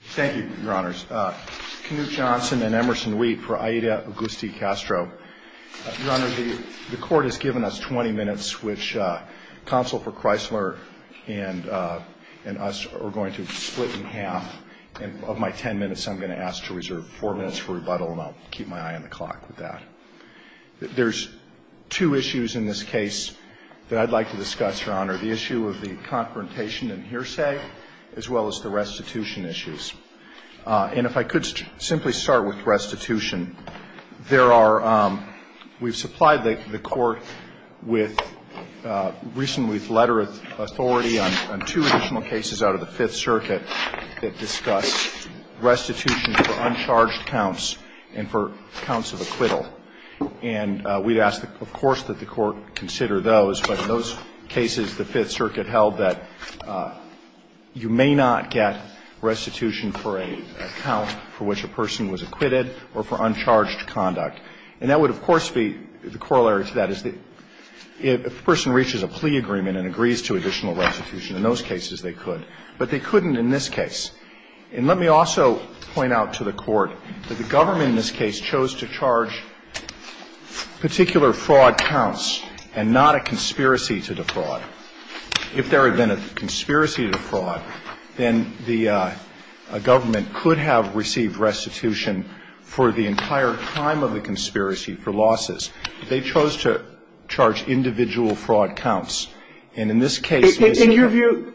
Thank you, Your Honors. Knute Johnson and Emerson Wheat for Aida Agustí Castro. Your Honor, the Court has given us 20 minutes, which Counsel for Chrysler and us are going to split in half, and of my 10 minutes, I'm going to ask to reserve 4 minutes for rebuttal, and I'll keep my eye on the clock with that. There's two issues in this case that I'd like to discuss, Your Honor, the issue of the confrontation and hearsay, as well as the restitution issues. And if I could simply start with restitution. There are we've supplied the Court with recently with letter of authority on two additional cases out of the Fifth Circuit that discuss restitution for uncharged counts and for counts of acquittal. And we'd ask, of course, that the Court consider those, but in those cases the Fifth Circuit held that you may not get restitution for a count for which a person was acquitted or for uncharged conduct. And that would, of course, be the corollary to that is that if a person reaches a plea agreement and agrees to additional restitution, in those cases they could, but they couldn't in this case. And let me also point out to the Court that the government in this case chose to charge particular fraud counts and not a conspiracy to defraud. If there had been a conspiracy to defraud, then the government could have received restitution for the entire time of the conspiracy for losses. They chose to charge individual fraud counts. And in this case, in your view,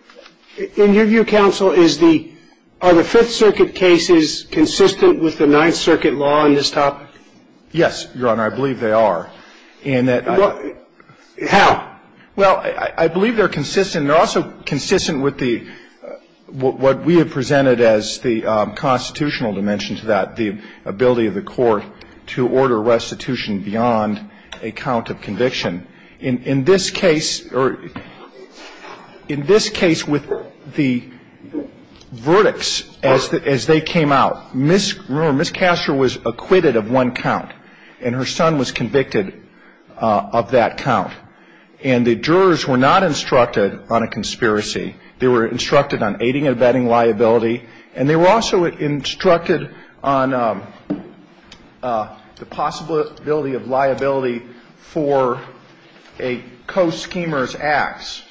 in your view, counsel, is the are the Fifth Circuit cases consistent with the Ninth Circuit law on this topic? Yes, Your Honor. I believe they are. How? Well, I believe they're consistent. They're also consistent with the what we have presented as the constitutional dimension to that, the ability of the Court to order restitution beyond a count of conviction. In this case, or in this case with the verdicts as they came out, Ms. Kastner was acquitted of one count, and her son was convicted of that count. And the jurors were not instructed on a conspiracy. They were instructed on aiding and abetting liability. And they were also instructed on the possibility of liability for a co-schemer's acts,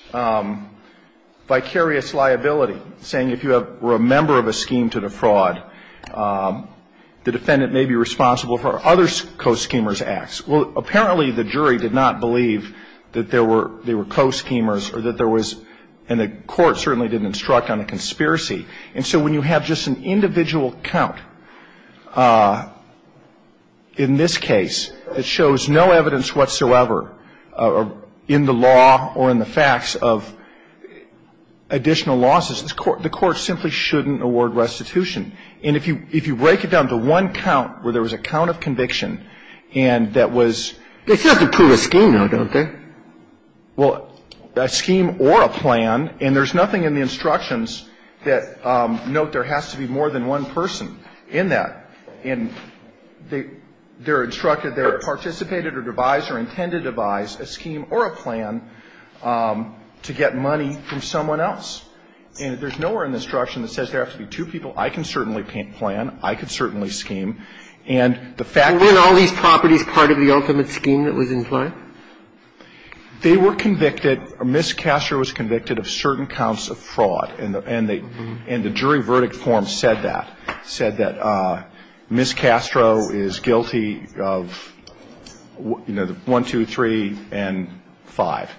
vicarious liability, saying if you were a member of a scheme to defraud, the defendant may be responsible for other co-schemer's acts. Well, apparently the jury did not believe that there were co-schemers or that there was, and the Court certainly didn't instruct on a conspiracy. And so when you have just an individual count in this case that shows no evidence whatsoever in the law or in the facts of additional losses, the Court simply shouldn't award restitution. And if you break it down to one count where there was a count of conviction and that was ---- They still have to prove a scheme now, don't they? Well, a scheme or a plan, and there's nothing in the instructions that note there has to be more than one person in that. And they're instructed, they're participated or devised or intended to devise a scheme or a plan to get money from someone else. And there's nowhere in the instruction that says there have to be two people. I can certainly plan. I can certainly scheme. And the fact that ---- Weren't all these properties part of the ultimate scheme that was implied? They were convicted. Ms. Castro was convicted of certain counts of fraud. And the jury verdict form said that. It said that Ms. Castro is guilty of, you know, 1, 2, 3, and 5.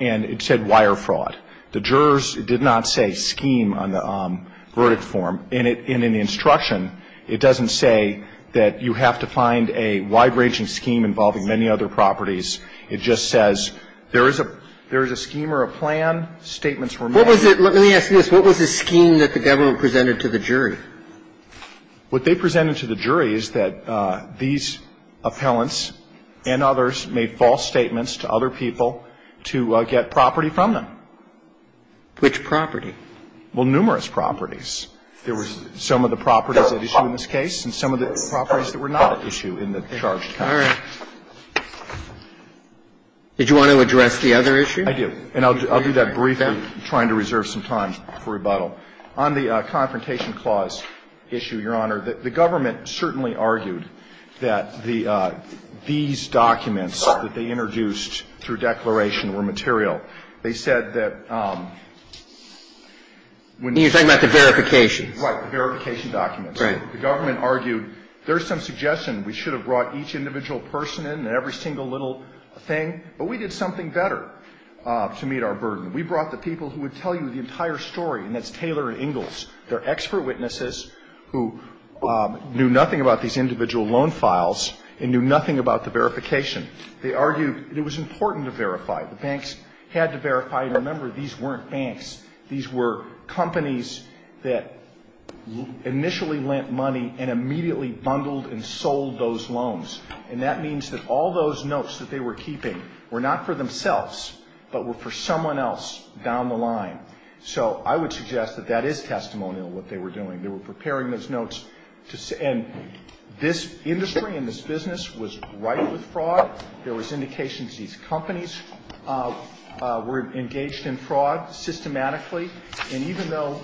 And it said wire fraud. The jurors did not say scheme on the verdict form. And in the instruction, it doesn't say that you have to find a wide-ranging scheme involving many other properties. It just says there is a scheme or a plan, statements were made. Let me ask you this. What was the scheme that the government presented to the jury? What they presented to the jury is that these appellants and others made false statements to other people to get property from them. Which property? Well, numerous properties. There was some of the properties at issue in this case and some of the properties that were not at issue in the charge. All right. Did you want to address the other issue? I do. And I'll do that briefly, trying to reserve some time for rebuttal. On the Confrontation Clause issue, Your Honor, the government certainly argued that the these documents that they introduced through declaration were material. They said that when you're talking about the verifications. Right, the verification documents. Right. The government argued there's some suggestion we should have brought each individual person in and every single little thing. But we did something better to meet our burden. We brought the people who would tell you the entire story, and that's Taylor and Ingalls. They're expert witnesses who knew nothing about these individual loan files and knew nothing about the verification. They argued it was important to verify. The banks had to verify. And remember, these weren't banks. These were companies that initially lent money and immediately bundled and sold those loans. And that means that all those notes that they were keeping were not for themselves, but were for someone else down the line. So I would suggest that that is testimonial, what they were doing. They were preparing those notes. And this industry and this business was ripe with fraud. There was indication that these companies were engaged in fraud systematically. And even though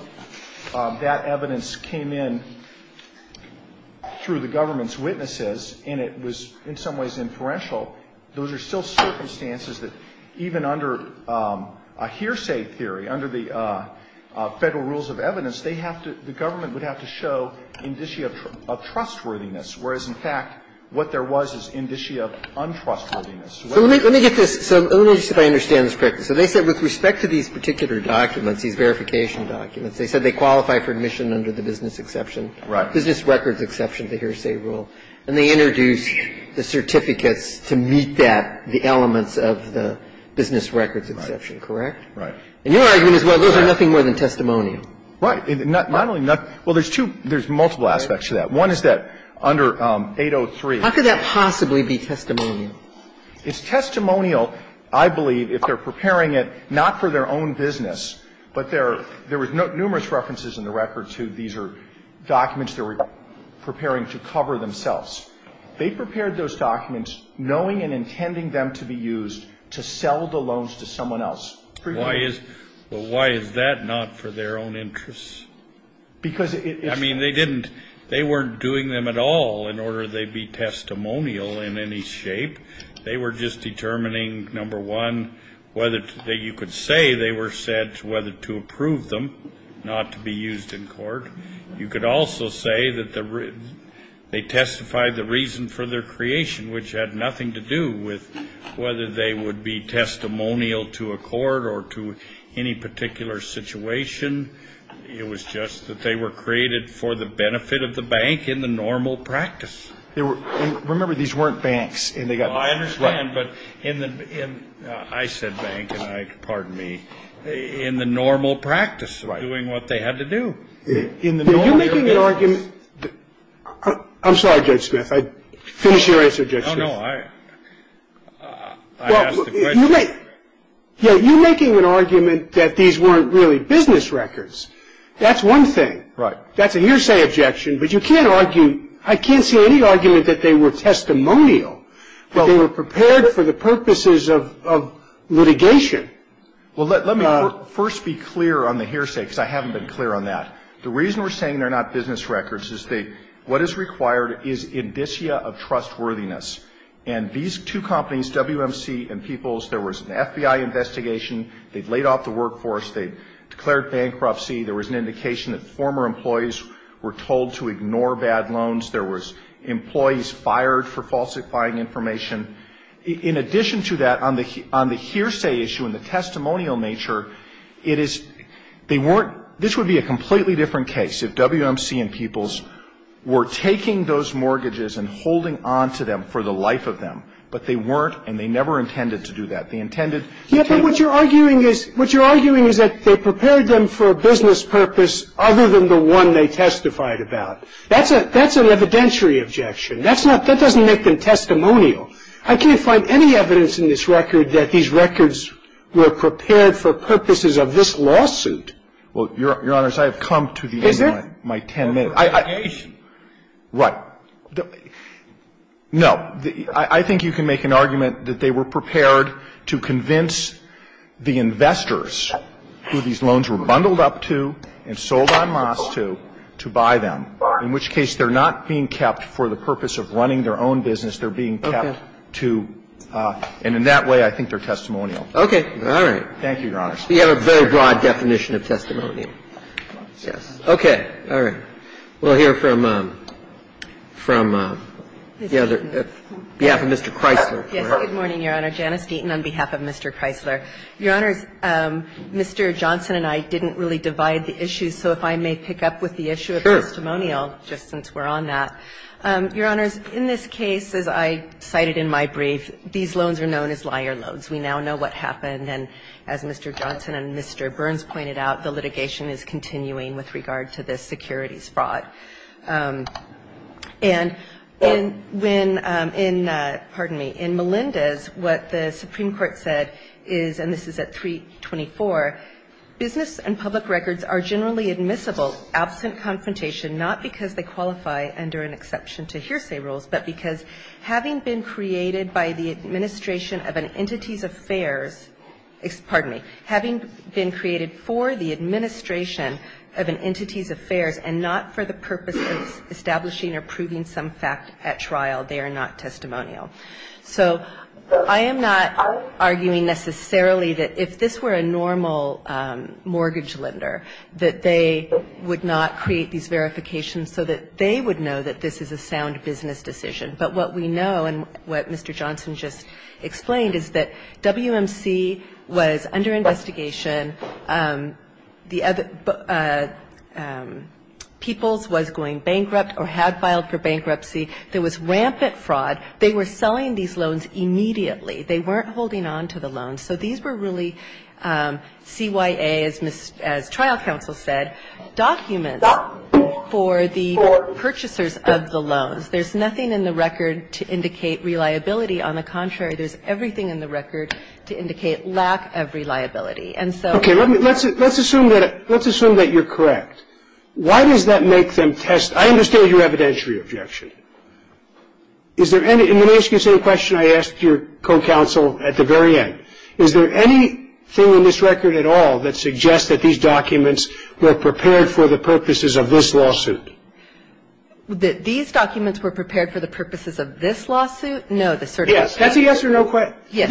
that evidence came in through the government's witnesses, and it was in some ways inferential, those are still circumstances that even under a hearsay theory, under the Federal Rules of Evidence, they have to – the government would have to show indicia of trustworthiness, whereas, in fact, what there was is indicia of untrustworthiness. So let me get this. So let me see if I understand this correctly. So they said with respect to these particular documents, these verification documents, they said they qualify for admission under the business exception. Right. Business records exception, the hearsay rule. And they introduced the certificates to meet that, the elements of the business records exception, correct? Right. And your argument is, well, those are nothing more than testimonial. Right. Not only nothing – well, there's two – there's multiple aspects to that. One is that under 803. How could that possibly be testimonial? It's testimonial, I believe, if they're preparing it not for their own business, but there are – there were numerous references in the record to these are documents they were preparing to cover themselves. They prepared those documents knowing and intending them to be used to sell the loans to someone else. Why is – well, why is that not for their own interests? Because it is – I mean, they didn't – they weren't doing them at all in order they'd be testimonial in any shape. They were just determining, number one, whether – that you could say they were said whether to approve them, not to be used in court. You could also say that they testified the reason for their creation, which had nothing to do with whether they would be testimonial to a court or to any particular situation. It was just that they were created for the benefit of the bank in the normal practice. Remember, these weren't banks, and they got – Well, I understand, but in the – I said bank, and I – pardon me – in the normal practice of doing what they had to do. In the normal – You're making an argument – I'm sorry, Judge Smith. I'd finish your answer, Judge Smith. Oh, no. I asked the question. You're making an argument that these weren't really business records. That's one thing. Right. That's a hearsay objection, but you can't argue – I can't see any argument that they were testimonial, that they were prepared for the purposes of litigation. Well, let me first be clear on the hearsay, because I haven't been clear on that. The reason we're saying they're not business records is that what is required is indicia of trustworthiness. And these two companies, WMC and Peoples, there was an FBI investigation. They laid off the workforce. They declared bankruptcy. There was an indication that former employees were told to ignore bad loans. There was employees fired for falsifying information. In addition to that, on the hearsay issue and the testimonial nature, it is – they weren't – this would be a completely different case if WMC and Peoples were taking those mortgages and holding on to them for the life of them. But they weren't, and they never intended to do that. They intended – Yeah, but what you're arguing is that they prepared them for a business purpose other than the one they testified about. That's an evidentiary objection. That's not – that doesn't make them testimonial. I can't find any evidence in this record that these records were prepared for purposes of this lawsuit. Well, Your Honors, I have come to the end of my ten minutes. Is there? Right. No. I think you can make an argument that they were prepared to convince the investors who these loans were bundled up to and sold on months to to buy them, in which case they're not being kept for the purpose of running their own business. They're being kept to – and in that way, I think they're testimonial. Okay. All right. Thank you, Your Honors. You have a very broad definition of testimonial. Yes. Okay. All right. We'll hear from – from the other – behalf of Mr. Kreisler. Yes. Good morning, Your Honor. Janice Deaton on behalf of Mr. Kreisler. Your Honors, Mr. Johnson and I didn't really divide the issues, so if I may pick up with the issue of testimonial, just since we're on that. Sure. Your Honors, in this case, as I cited in my brief, these loans are known as liar loans. We now know what happened, and as Mr. Johnson and Mr. Burns pointed out, the litigation is continuing with regard to this securities fraud. And when – in – pardon me – in Melinda's, what the Supreme Court said is – and this is at 324 – business and public records are generally admissible absent confrontation not because they qualify under an exception to hearsay rules, but because having been created by the administration of an entity's affairs – pardon me – having been created for the administration of an entity's affairs and not for the purpose of establishing or proving some fact at trial, they are not testimonial. So I am not arguing necessarily that if this were a normal mortgage lender, that they would not create these verifications so that they would know that this is a sound business decision. But what we know, and what Mr. Johnson just explained, is that WMC was under investigation. The other – Peoples was going bankrupt or had filed for bankruptcy. There was rampant fraud. They were selling these loans immediately. They weren't holding on to the loans. So these were really CYA, as trial counsel said, documents for the purchasers of the loans. There's nothing in the record to indicate reliability. On the contrary, there's everything in the record to indicate lack of reliability. And so – Okay. Let's assume that – let's assume that you're correct. Why does that make them test – I understand your evidentiary objection. Is there any – and let me ask you the same question I asked your co-counsel at the very end. Is there anything in this record at all that suggests that these documents were prepared for the purposes of this lawsuit? That these documents were prepared for the purposes of this lawsuit? No, the certificate. Yes. That's a yes or no question. Yes.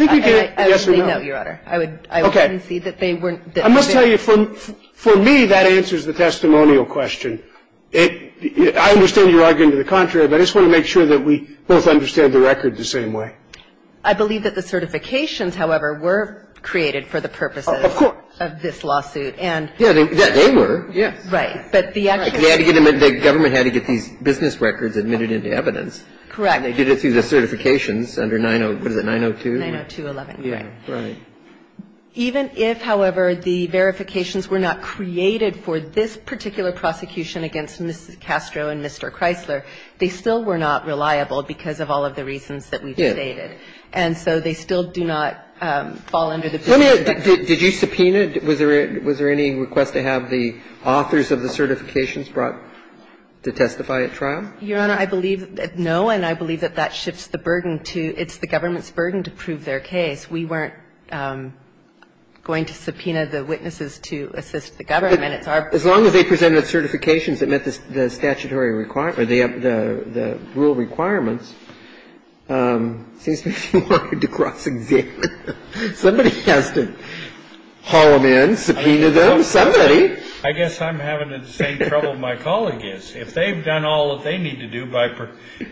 I would say no, Your Honor. I would concede that they weren't – I must tell you, for me, that answers the testimonial question. I understand your argument to the contrary, but I just want to make sure that we both understand the record the same way. I believe that the certifications, however, were created for the purposes of this lawsuit. Of course. Yeah, they were. Yes. Right. But the actual – The government had to get these business records admitted into evidence. Correct. And they did it through the certifications under 902 – what is it, 902? 90211. Right. Even if, however, the verifications were not created for this particular prosecution against Mrs. Castro and Mr. Chrysler, they still were not reliable because of all of the reasons that we've stated. Yeah. And so they still do not fall under the business – Let me – did you subpoena? Was there any request to have the authors of the certifications brought to testify at trial? Your Honor, I believe – no, and I believe that that shifts the burden to it's the government's burden to prove their case. We weren't going to subpoena the witnesses to assist the government. It's our – As long as they presented certifications that met the statutory requirements or the rule requirements, it seems to me if you wanted to cross-examine, somebody has to haul them in, subpoena them, somebody. I guess I'm having the same trouble my colleague is. If they've done all that they need to do by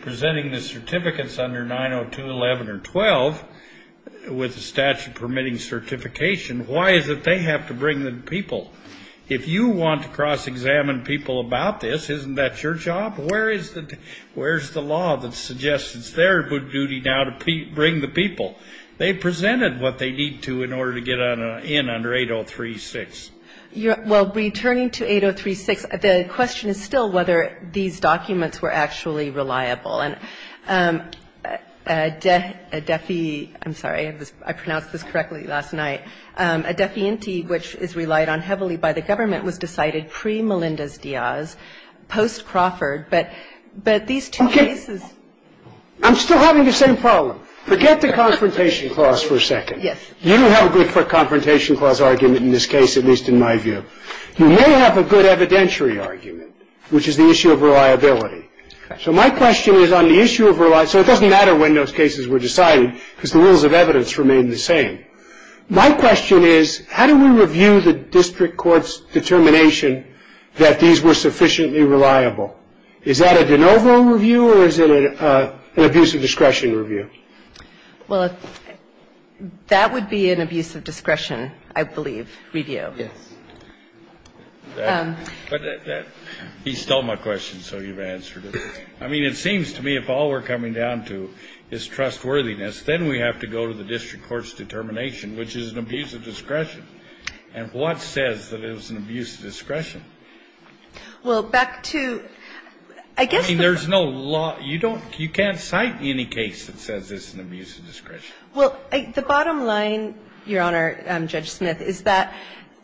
presenting the certificates under 90211 or 112 with the statute permitting certification, why is it they have to bring the people? If you want to cross-examine people about this, isn't that your job? Where is the law that suggests it's their duty now to bring the people? They presented what they need to in order to get in under 8036. Well, returning to 8036, the question is still whether these documents were actually reliable. And a DEFI – I'm sorry. I pronounced this correctly last night. A DEFI-INTI, which is relied on heavily by the government, was decided pre-Melinda's-Diaz, post-Crawford. But these two cases – I'm still having the same problem. Forget the confrontation clause for a second. Yes. You have a good confrontation clause argument in this case, at least in my view. You may have a good evidentiary argument, which is the issue of reliability. Correct. So my question is on the issue of reliability. So it doesn't matter when those cases were decided, because the rules of evidence remain the same. My question is, how do we review the district court's determination that these were sufficiently reliable? Is that a de novo review, or is it an abuse of discretion review? Well, that would be an abuse of discretion, I believe, review. Yes. He stole my question, so you've answered it. I mean, it seems to me if all we're coming down to is trustworthiness, then we have to go to the district court's determination, which is an abuse of discretion. And what says that it was an abuse of discretion? Well, back to – I guess the – I mean, there's no law – you don't – you can't cite any case that says it's an abuse of discretion. Well, the bottom line, Your Honor, Judge Smith, is that,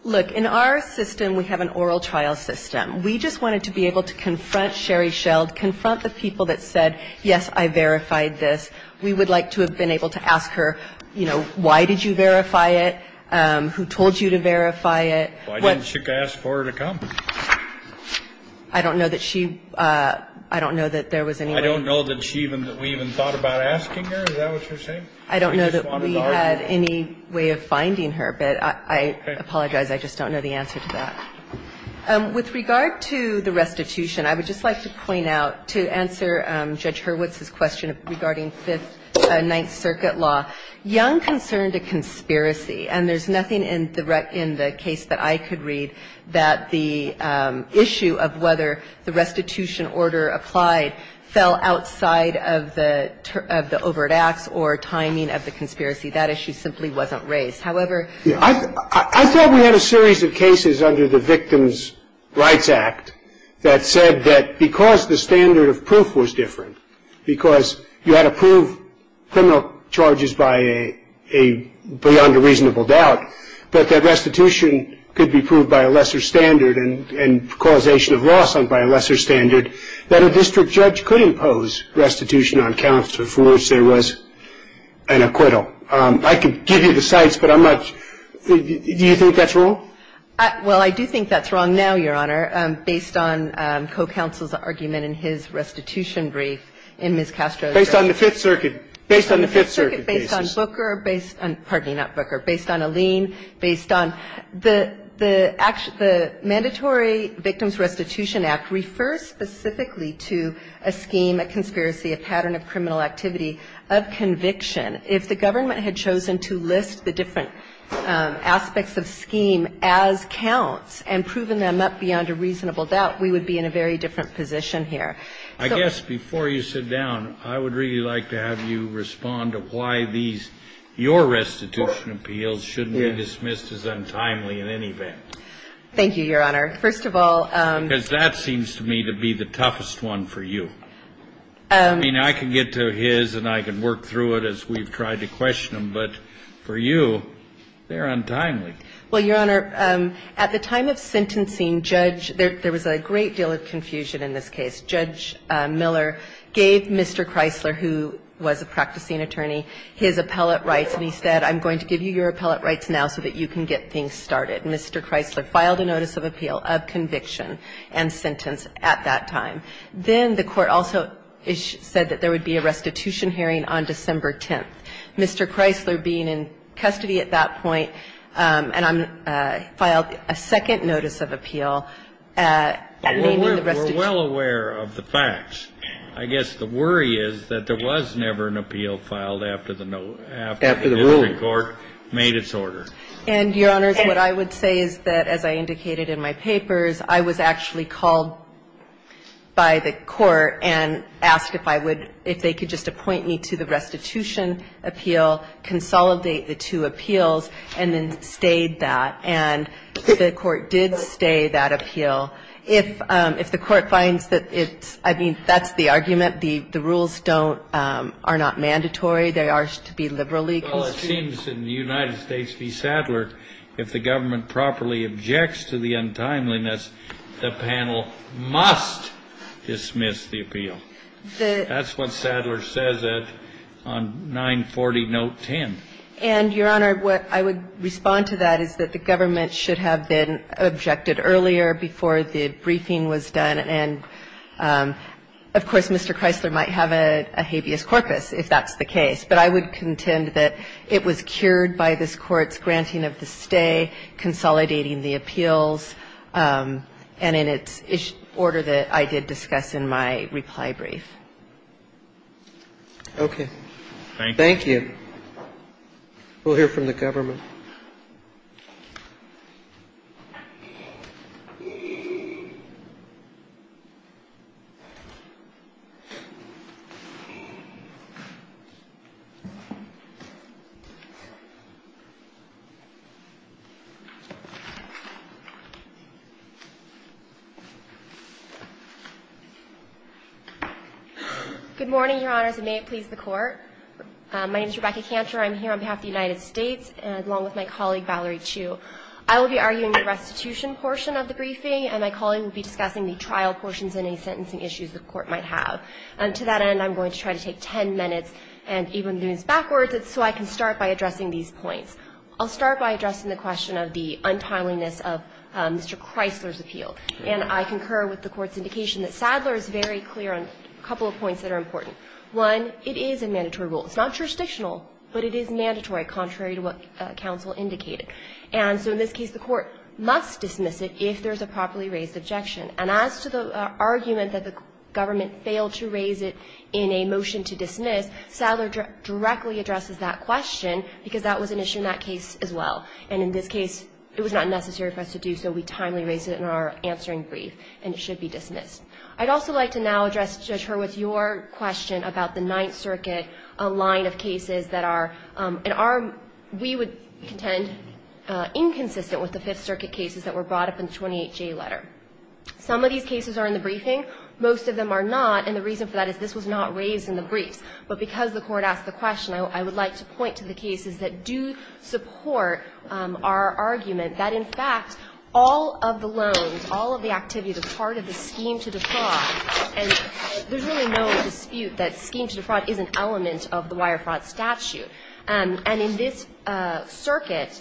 look, in our system, we have an oral trial system. We just wanted to be able to confront Sherry Sheld, confront the people that said, yes, I verified this. We would like to have been able to ask her, you know, why did you verify it, who told you to verify it. Why didn't she ask for her to come? I don't know that she – I don't know that there was any way – I don't know that she even – that we even thought about asking her. Is that what you're saying? I don't know that we had any way of finding her, but I apologize. I just don't know the answer to that. With regard to the restitution, I would just like to point out, to answer Judge Hurwitz's question regarding Fifth – Ninth Circuit law, Young concerned a conspiracy. And there's nothing in the case that I could read that the issue of whether the restitution order applied fell outside of the overt acts or timing of the conspiracy. That issue simply wasn't raised. However – I thought we had a series of cases under the Victims' Rights Act that said that because the standard of proof was different, because you had to prove criminal charges by a – beyond a reasonable doubt, that that restitution could be proved by a lesser standard and causation of loss by a lesser standard, that a district judge could impose restitution on counsel for which there was an acquittal. I could give you the sites, but I'm not – do you think that's wrong? Well, I do think that's wrong now, Your Honor, based on co-counsel's argument in his restitution brief in Ms. Castro's – Based on the Fifth Circuit. Based on the Fifth Circuit cases. Based on Booker. Pardon me, not Booker. Based on Alin. Based on the mandatory Victims Restitution Act refers specifically to a scheme, a conspiracy, a pattern of criminal activity of conviction. If the government had chosen to list the different aspects of scheme as counts and proven them up beyond a reasonable doubt, we would be in a very different position here. I guess before you sit down, I would really like to have you respond to why these – your restitution appeals shouldn't be dismissed as untimely in any event. Thank you, Your Honor. First of all – Because that seems to me to be the toughest one for you. I mean, I can get to his and I can work through it as we've tried to question him, but for you, they're untimely. Well, Your Honor, at the time of sentencing, judge – there was a great deal of confusion in this case. Judge Miller gave Mr. Kreisler, who was a practicing attorney, his appellate rights, and he said, I'm going to give you your appellate rights now so that you can get things started. Mr. Kreisler filed a notice of appeal of conviction and sentence at that time. Then the Court also said that there would be a restitution hearing on December 10th. Mr. Kreisler being in custody at that point and filed a second notice of appeal naming the restitution. I'm well aware of the facts. I guess the worry is that there was never an appeal filed after the district court made its order. And, Your Honor, what I would say is that, as I indicated in my papers, I was actually called by the Court and asked if I would – if they could just appoint me to the restitution appeal, consolidate the two appeals, and then stayed that. And the Court did stay that appeal. If the Court finds that it's – I mean, that's the argument. The rules don't – are not mandatory. They are to be liberally constituted. Well, it seems in the United States v. Sadler, if the government properly objects to the untimeliness, the panel must dismiss the appeal. That's what Sadler says on 940 note 10. And, Your Honor, what I would respond to that is that the government should have been subjected earlier before the briefing was done. And, of course, Mr. Chrysler might have a habeas corpus if that's the case. But I would contend that it was cured by this Court's granting of the stay, consolidating the appeals, and in its order that I did discuss in my reply brief. Okay. Thank you. We'll hear from the government. Good morning, Your Honors, and may it please the Court. My name is Rebecca Kantor. I'm here on behalf of the United States, along with my colleague, Valerie Chiu. I will be arguing the restitution portion of the briefing, and my colleague will be discussing the trial portions and any sentencing issues the Court might have. To that end, I'm going to try to take 10 minutes and even lose backwards so I can start by addressing these points. I'll start by addressing the question of the untimeliness of Mr. Chrysler's appeal. And I concur with the Court's indication that Sadler is very clear on a couple of points that are important. One, it is a mandatory rule. It's not jurisdictional, but it is mandatory, contrary to what counsel indicated. And so in this case, the Court must dismiss it if there's a properly raised objection. And as to the argument that the government failed to raise it in a motion to dismiss, Sadler directly addresses that question, because that was an issue in that case as well. And in this case, it was not necessary for us to do so. We timely raised it in our answering brief, and it should be dismissed. I'd also like to now address, Judge Hurwitz, your question about the Ninth Circuit line of cases that are in our we would contend inconsistent with the Fifth Circuit cases that were brought up in the 28J letter. Some of these cases are in the briefing. Most of them are not, and the reason for that is this was not raised in the briefs. But because the Court asked the question, I would like to point to the cases that do support our argument that, in fact, all of the loans, all of the activities that are part of the scheme to defraud, and there's really no dispute that scheme to defraud is an element of the wire fraud statute. And in this circuit,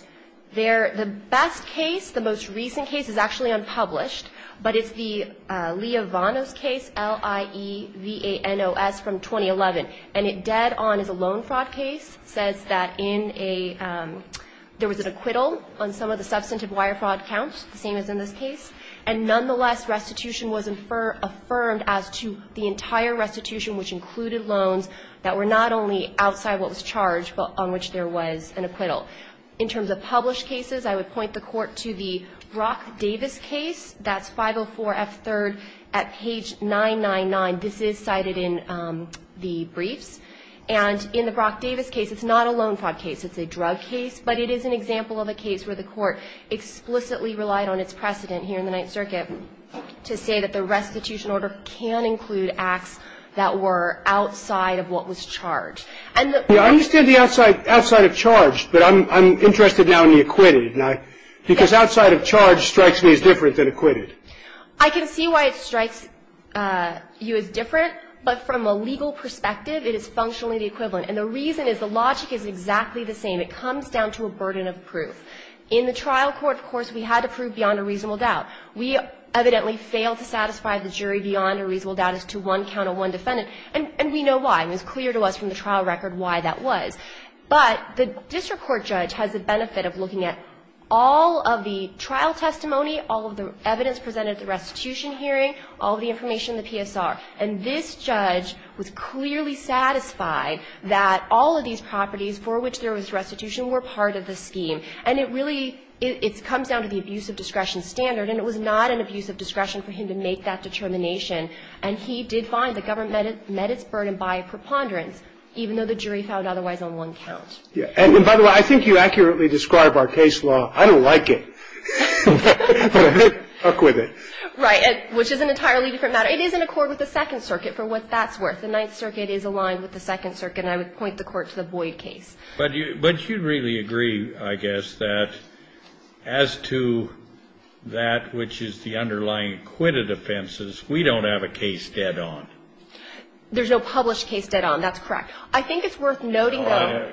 the best case, the most recent case, is actually unpublished, but it's the Lievanos case, L-I-E-V-A-N-O-S, from 2011. And it dead-on is a loan fraud case. It says that in a – there was an acquittal on some of the substantive wire fraud counts, the same as in this case. And nonetheless, restitution was affirmed as to the entire restitution, which included loans that were not only outside what was charged, but on which there was an acquittal. In terms of published cases, I would point the Court to the Brock-Davis case. That's 504F3rd at page 999. This is cited in the briefs. And in the Brock-Davis case, it's not a loan fraud case. It's a drug case. But it is an example of a case where the Court explicitly relied on its precedent here in the Ninth Circuit to say that the restitution order can include acts that were outside of what was charged. And the – I understand the outside of charge, but I'm interested now in the acquitted. Because outside of charge strikes me as different than acquitted. I can see why it strikes you as different, but from a legal perspective, it is functionally the equivalent. And the reason is the logic is exactly the same. It comes down to a burden of proof. In the trial court, of course, we had to prove beyond a reasonable doubt. We evidently failed to satisfy the jury beyond a reasonable doubt as to one count of one defendant, and we know why. It was clear to us from the trial record why that was. But the district court judge has the benefit of looking at all of the trial testimony, all of the evidence presented at the restitution hearing, all of the information in the PSR. And this judge was clearly satisfied that all of these properties for which there was restitution were part of the scheme. And it really – it comes down to the abuse of discretion standard, and it was not an abuse of discretion for him to make that determination. And he did find the government met its burden by a preponderance, even though the jury found otherwise on one count. And by the way, I think you accurately described our case law. I don't like it. But I did acquit it. Right. Which is an entirely different matter. It is in accord with the Second Circuit, for what that's worth. The Ninth Circuit is aligned with the Second Circuit, and I would point the Court to the Boyd case. But you'd really agree, I guess, that as to that which is the underlying acquitted offenses, we don't have a case dead on. There's no published case dead on. That's correct. I think it's worth noting, though.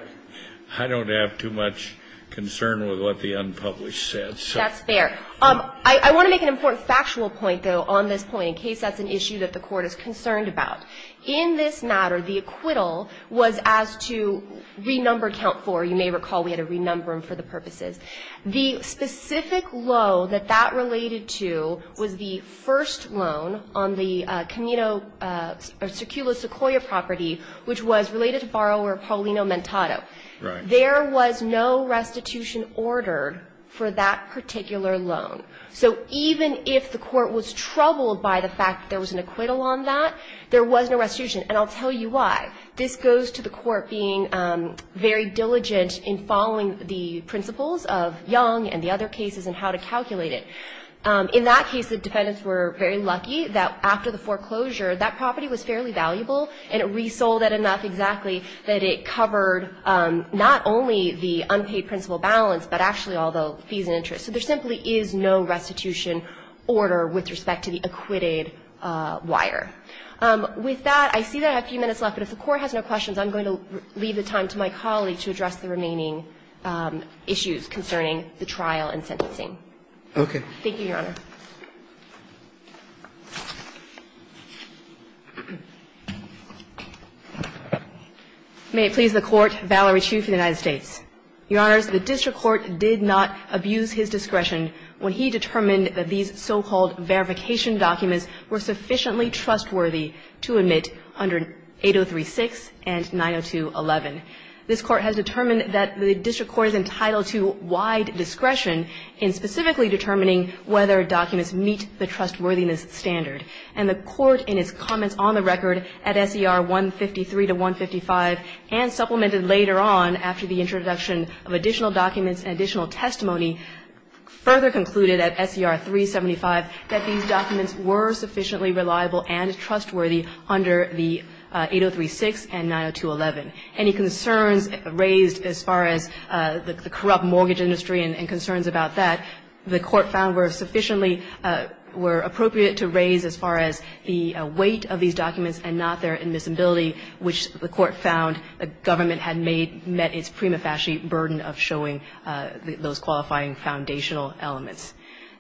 I don't have too much concern with what the unpublished says. That's fair. I want to make an important factual point, though, on this point, in case that's an issue that the Court is concerned about. In this matter, the acquittal was as to renumber count 4. You may recall we had to renumber them for the purposes. The specific low that that related to was the first loan on the Camino or Secula Sequoia property, which was related to borrower Paulino Mentado. Right. There was no restitution ordered for that particular loan. So even if the Court was troubled by the fact that there was an acquittal on that, there was no restitution. And I'll tell you why. This goes to the Court being very diligent in following the principles of Young and the other cases and how to calculate it. In that case, the defendants were very lucky that after the foreclosure, that property was fairly valuable and it resold it enough exactly that it covered not only the unpaid principal balance, but actually all the fees and interest. So there simply is no restitution order with respect to the acquitted wire. With that, I see that I have a few minutes left, but if the Court has no questions, I'm going to leave the time to my colleague to address the remaining issues concerning the trial and sentencing. Okay. Thank you, Your Honor. May it please the Court, Valerie Chiu for the United States. Your Honors, the district court did not abuse his discretion when he determined that these so-called verification documents were sufficiently trustworthy to admit under 803-6 and 902-11. This Court has determined that the district court is entitled to wide discretion in specifically determining whether documents meet the trustworthiness standard, and the Court in its comments on the record at SER 153 to 155 and supplemented later on after the introduction of additional documents and additional testimony further concluded at SER 375 that these documents were sufficiently reliable and trustworthy under the 803-6 and 902-11. Any concerns raised as far as the corrupt mortgage industry and concerns about that, the Court found were sufficiently – were appropriate to raise as far as the weight of these documents and not their admissibility, which the Court found the government had made – met its prima facie burden of showing those qualifying foundational elements.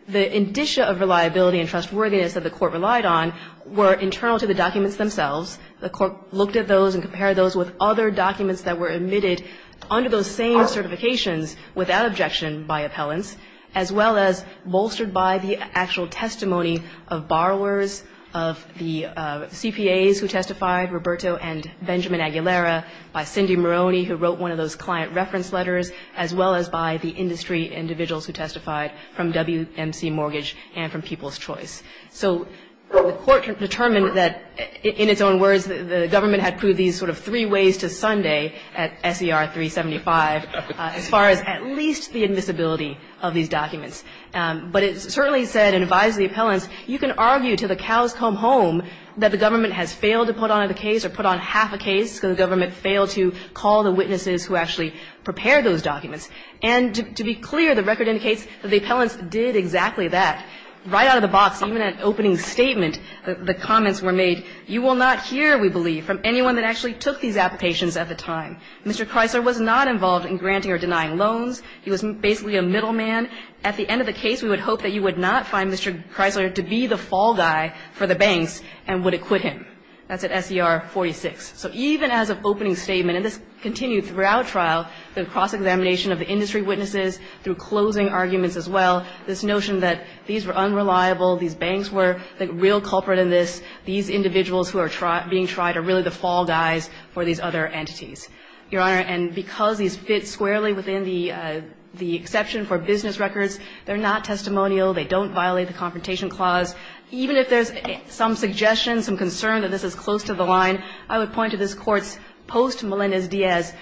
The indicia of reliability and trustworthiness that the Court relied on were internal to the documents themselves. The Court looked at those and compared those with other documents that were admitted under those same certifications without objection by appellants, as well as bolstered by the actual testimony of borrowers, of the CPAs who testified, Roberto and Benjamin Aguilera, by Cindy Moroney, who wrote one of those client reference letters, as well as by the industry individuals who testified from WMC Mortgage and from People's Choice. So the Court determined that, in its own words, the government had proved these sort of three ways to Sunday at S.E.R. 375 as far as at least the admissibility of these documents. But it certainly said and advised the appellants, you can argue till the cows come home that the government has failed to put on the case or put on half a case because the government failed to call the witnesses who actually prepared those documents. And to be clear, the record indicates that the appellants did exactly that. Right out of the box, even at opening statement, the comments were made, you will not hear, we believe, from anyone that actually took these applications at the time. Mr. Kreisler was not involved in granting or denying loans. He was basically a middleman. At the end of the case, we would hope that you would not find Mr. Kreisler to be the fall guy for the banks and would acquit him. That's at S.E.R. 46. So even as of opening statement, and this continued throughout trial, the cross-examination of the industry witnesses through closing arguments as well, this notion that these were unreliable, these banks were the real culprit in this, these individuals who are being tried are really the fall guys for these other entities. Your Honor, and because these fit squarely within the exception for business records, they're not testimonial. They don't violate the Confrontation Clause. Even if there's some suggestion, some concern that this is close to the line, I would point to this Court's post-Melendez-Diaz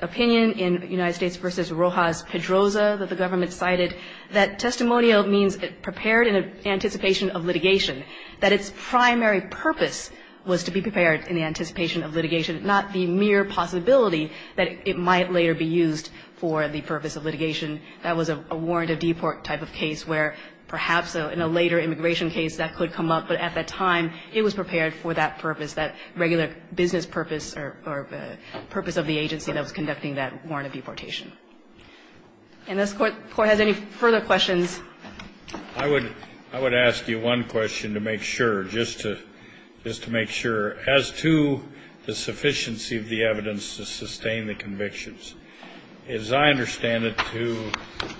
opinion in United States v. Rojas-Pedroza that the government cited that testimonial means prepared in anticipation of litigation, that its primary purpose was to be prepared in anticipation of litigation, not the mere possibility that it might later be used for the purpose of litigation. That was a warrant of deport type of case where perhaps in a later immigration case that could come up, but at that time it was prepared for that purpose, that regular business purpose or purpose of the agency that was conducting that warrant of deportation. And this Court has any further questions? I would ask you one question to make sure, just to make sure. As to the sufficiency of the evidence to sustain the convictions, as I understand it, to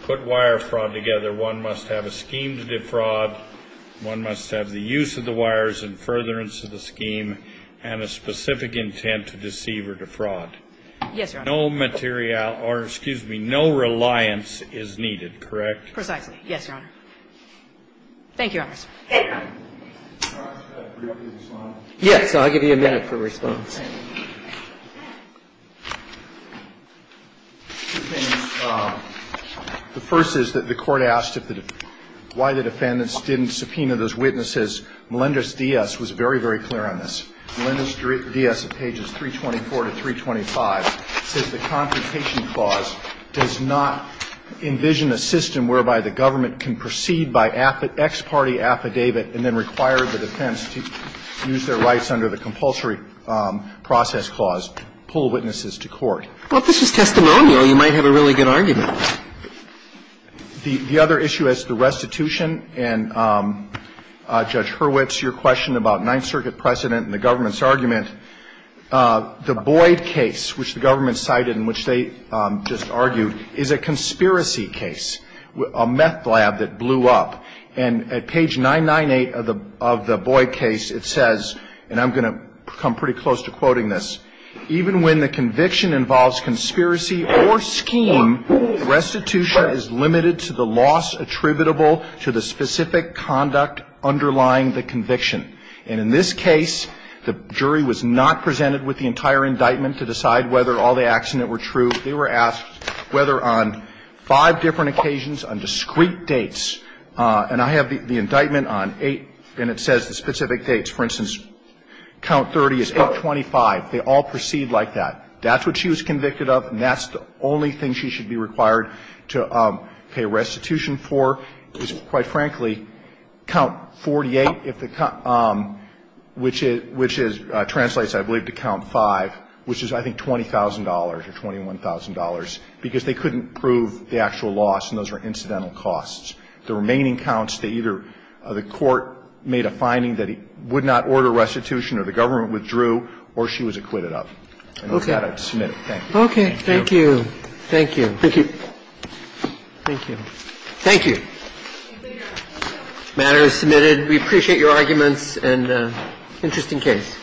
put wire fraud together, one must have a scheme to defraud, one must have the use of the wires and furtherance of the scheme and a specific intent to deceive or defraud. Yes, Your Honor. No material or, excuse me, no reliance is needed, correct? Precisely. Yes, Your Honor. Thank you, Your Honors. Can I ask a brief response? Yes. I'll give you a minute for response. The first is that the Court asked why the defendants didn't subpoena those witnesses in the first instance. The third is that the Court asked why the defendants didn't subpoena those witnesses. Melendez-Diaz was very, very clear on this. Melendez-Diaz at pages 324 to 325 says the Confrontation Clause does not envision a system whereby the government can proceed by ex parte affidavit and then require the defense to use their rights under the compulsory process clause, pull witnesses to court. Well, if this is testimonial, you might have a really good argument. The other issue is the restitution. And, Judge Hurwitz, your question about Ninth Circuit precedent and the government's argument, the Boyd case, which the government cited and which they just argued, is a conspiracy case, a meth lab that blew up. And at page 998 of the Boyd case, it says, and I'm going to come pretty close to quoting this, even when the conviction involves conspiracy or scheme, restitution is limited to the loss attributable to the specific conduct underlying the conviction. And in this case, the jury was not presented with the entire indictment to decide whether all the acts in it were true. They were asked whether on five different occasions, on discrete dates, and I have the indictment on eight, and it says the specific dates. For instance, count 30 is 825. They all proceed like that. That's what she was convicted of, and that's the only thing she should be required to pay restitution for is, quite frankly, count 48, which is, which translates, I believe, to count 5, which is, I think, $20,000 or $21,000, because they couldn't prove the actual loss, and those were incidental costs. The remaining counts, they either the court made a finding that it would not order restitution or the government withdrew or she was acquitted of. And with that, I'd submit it. Thank you. Thank you. Thank you. Thank you. Thank you. The matter is submitted. We appreciate your arguments and interesting case.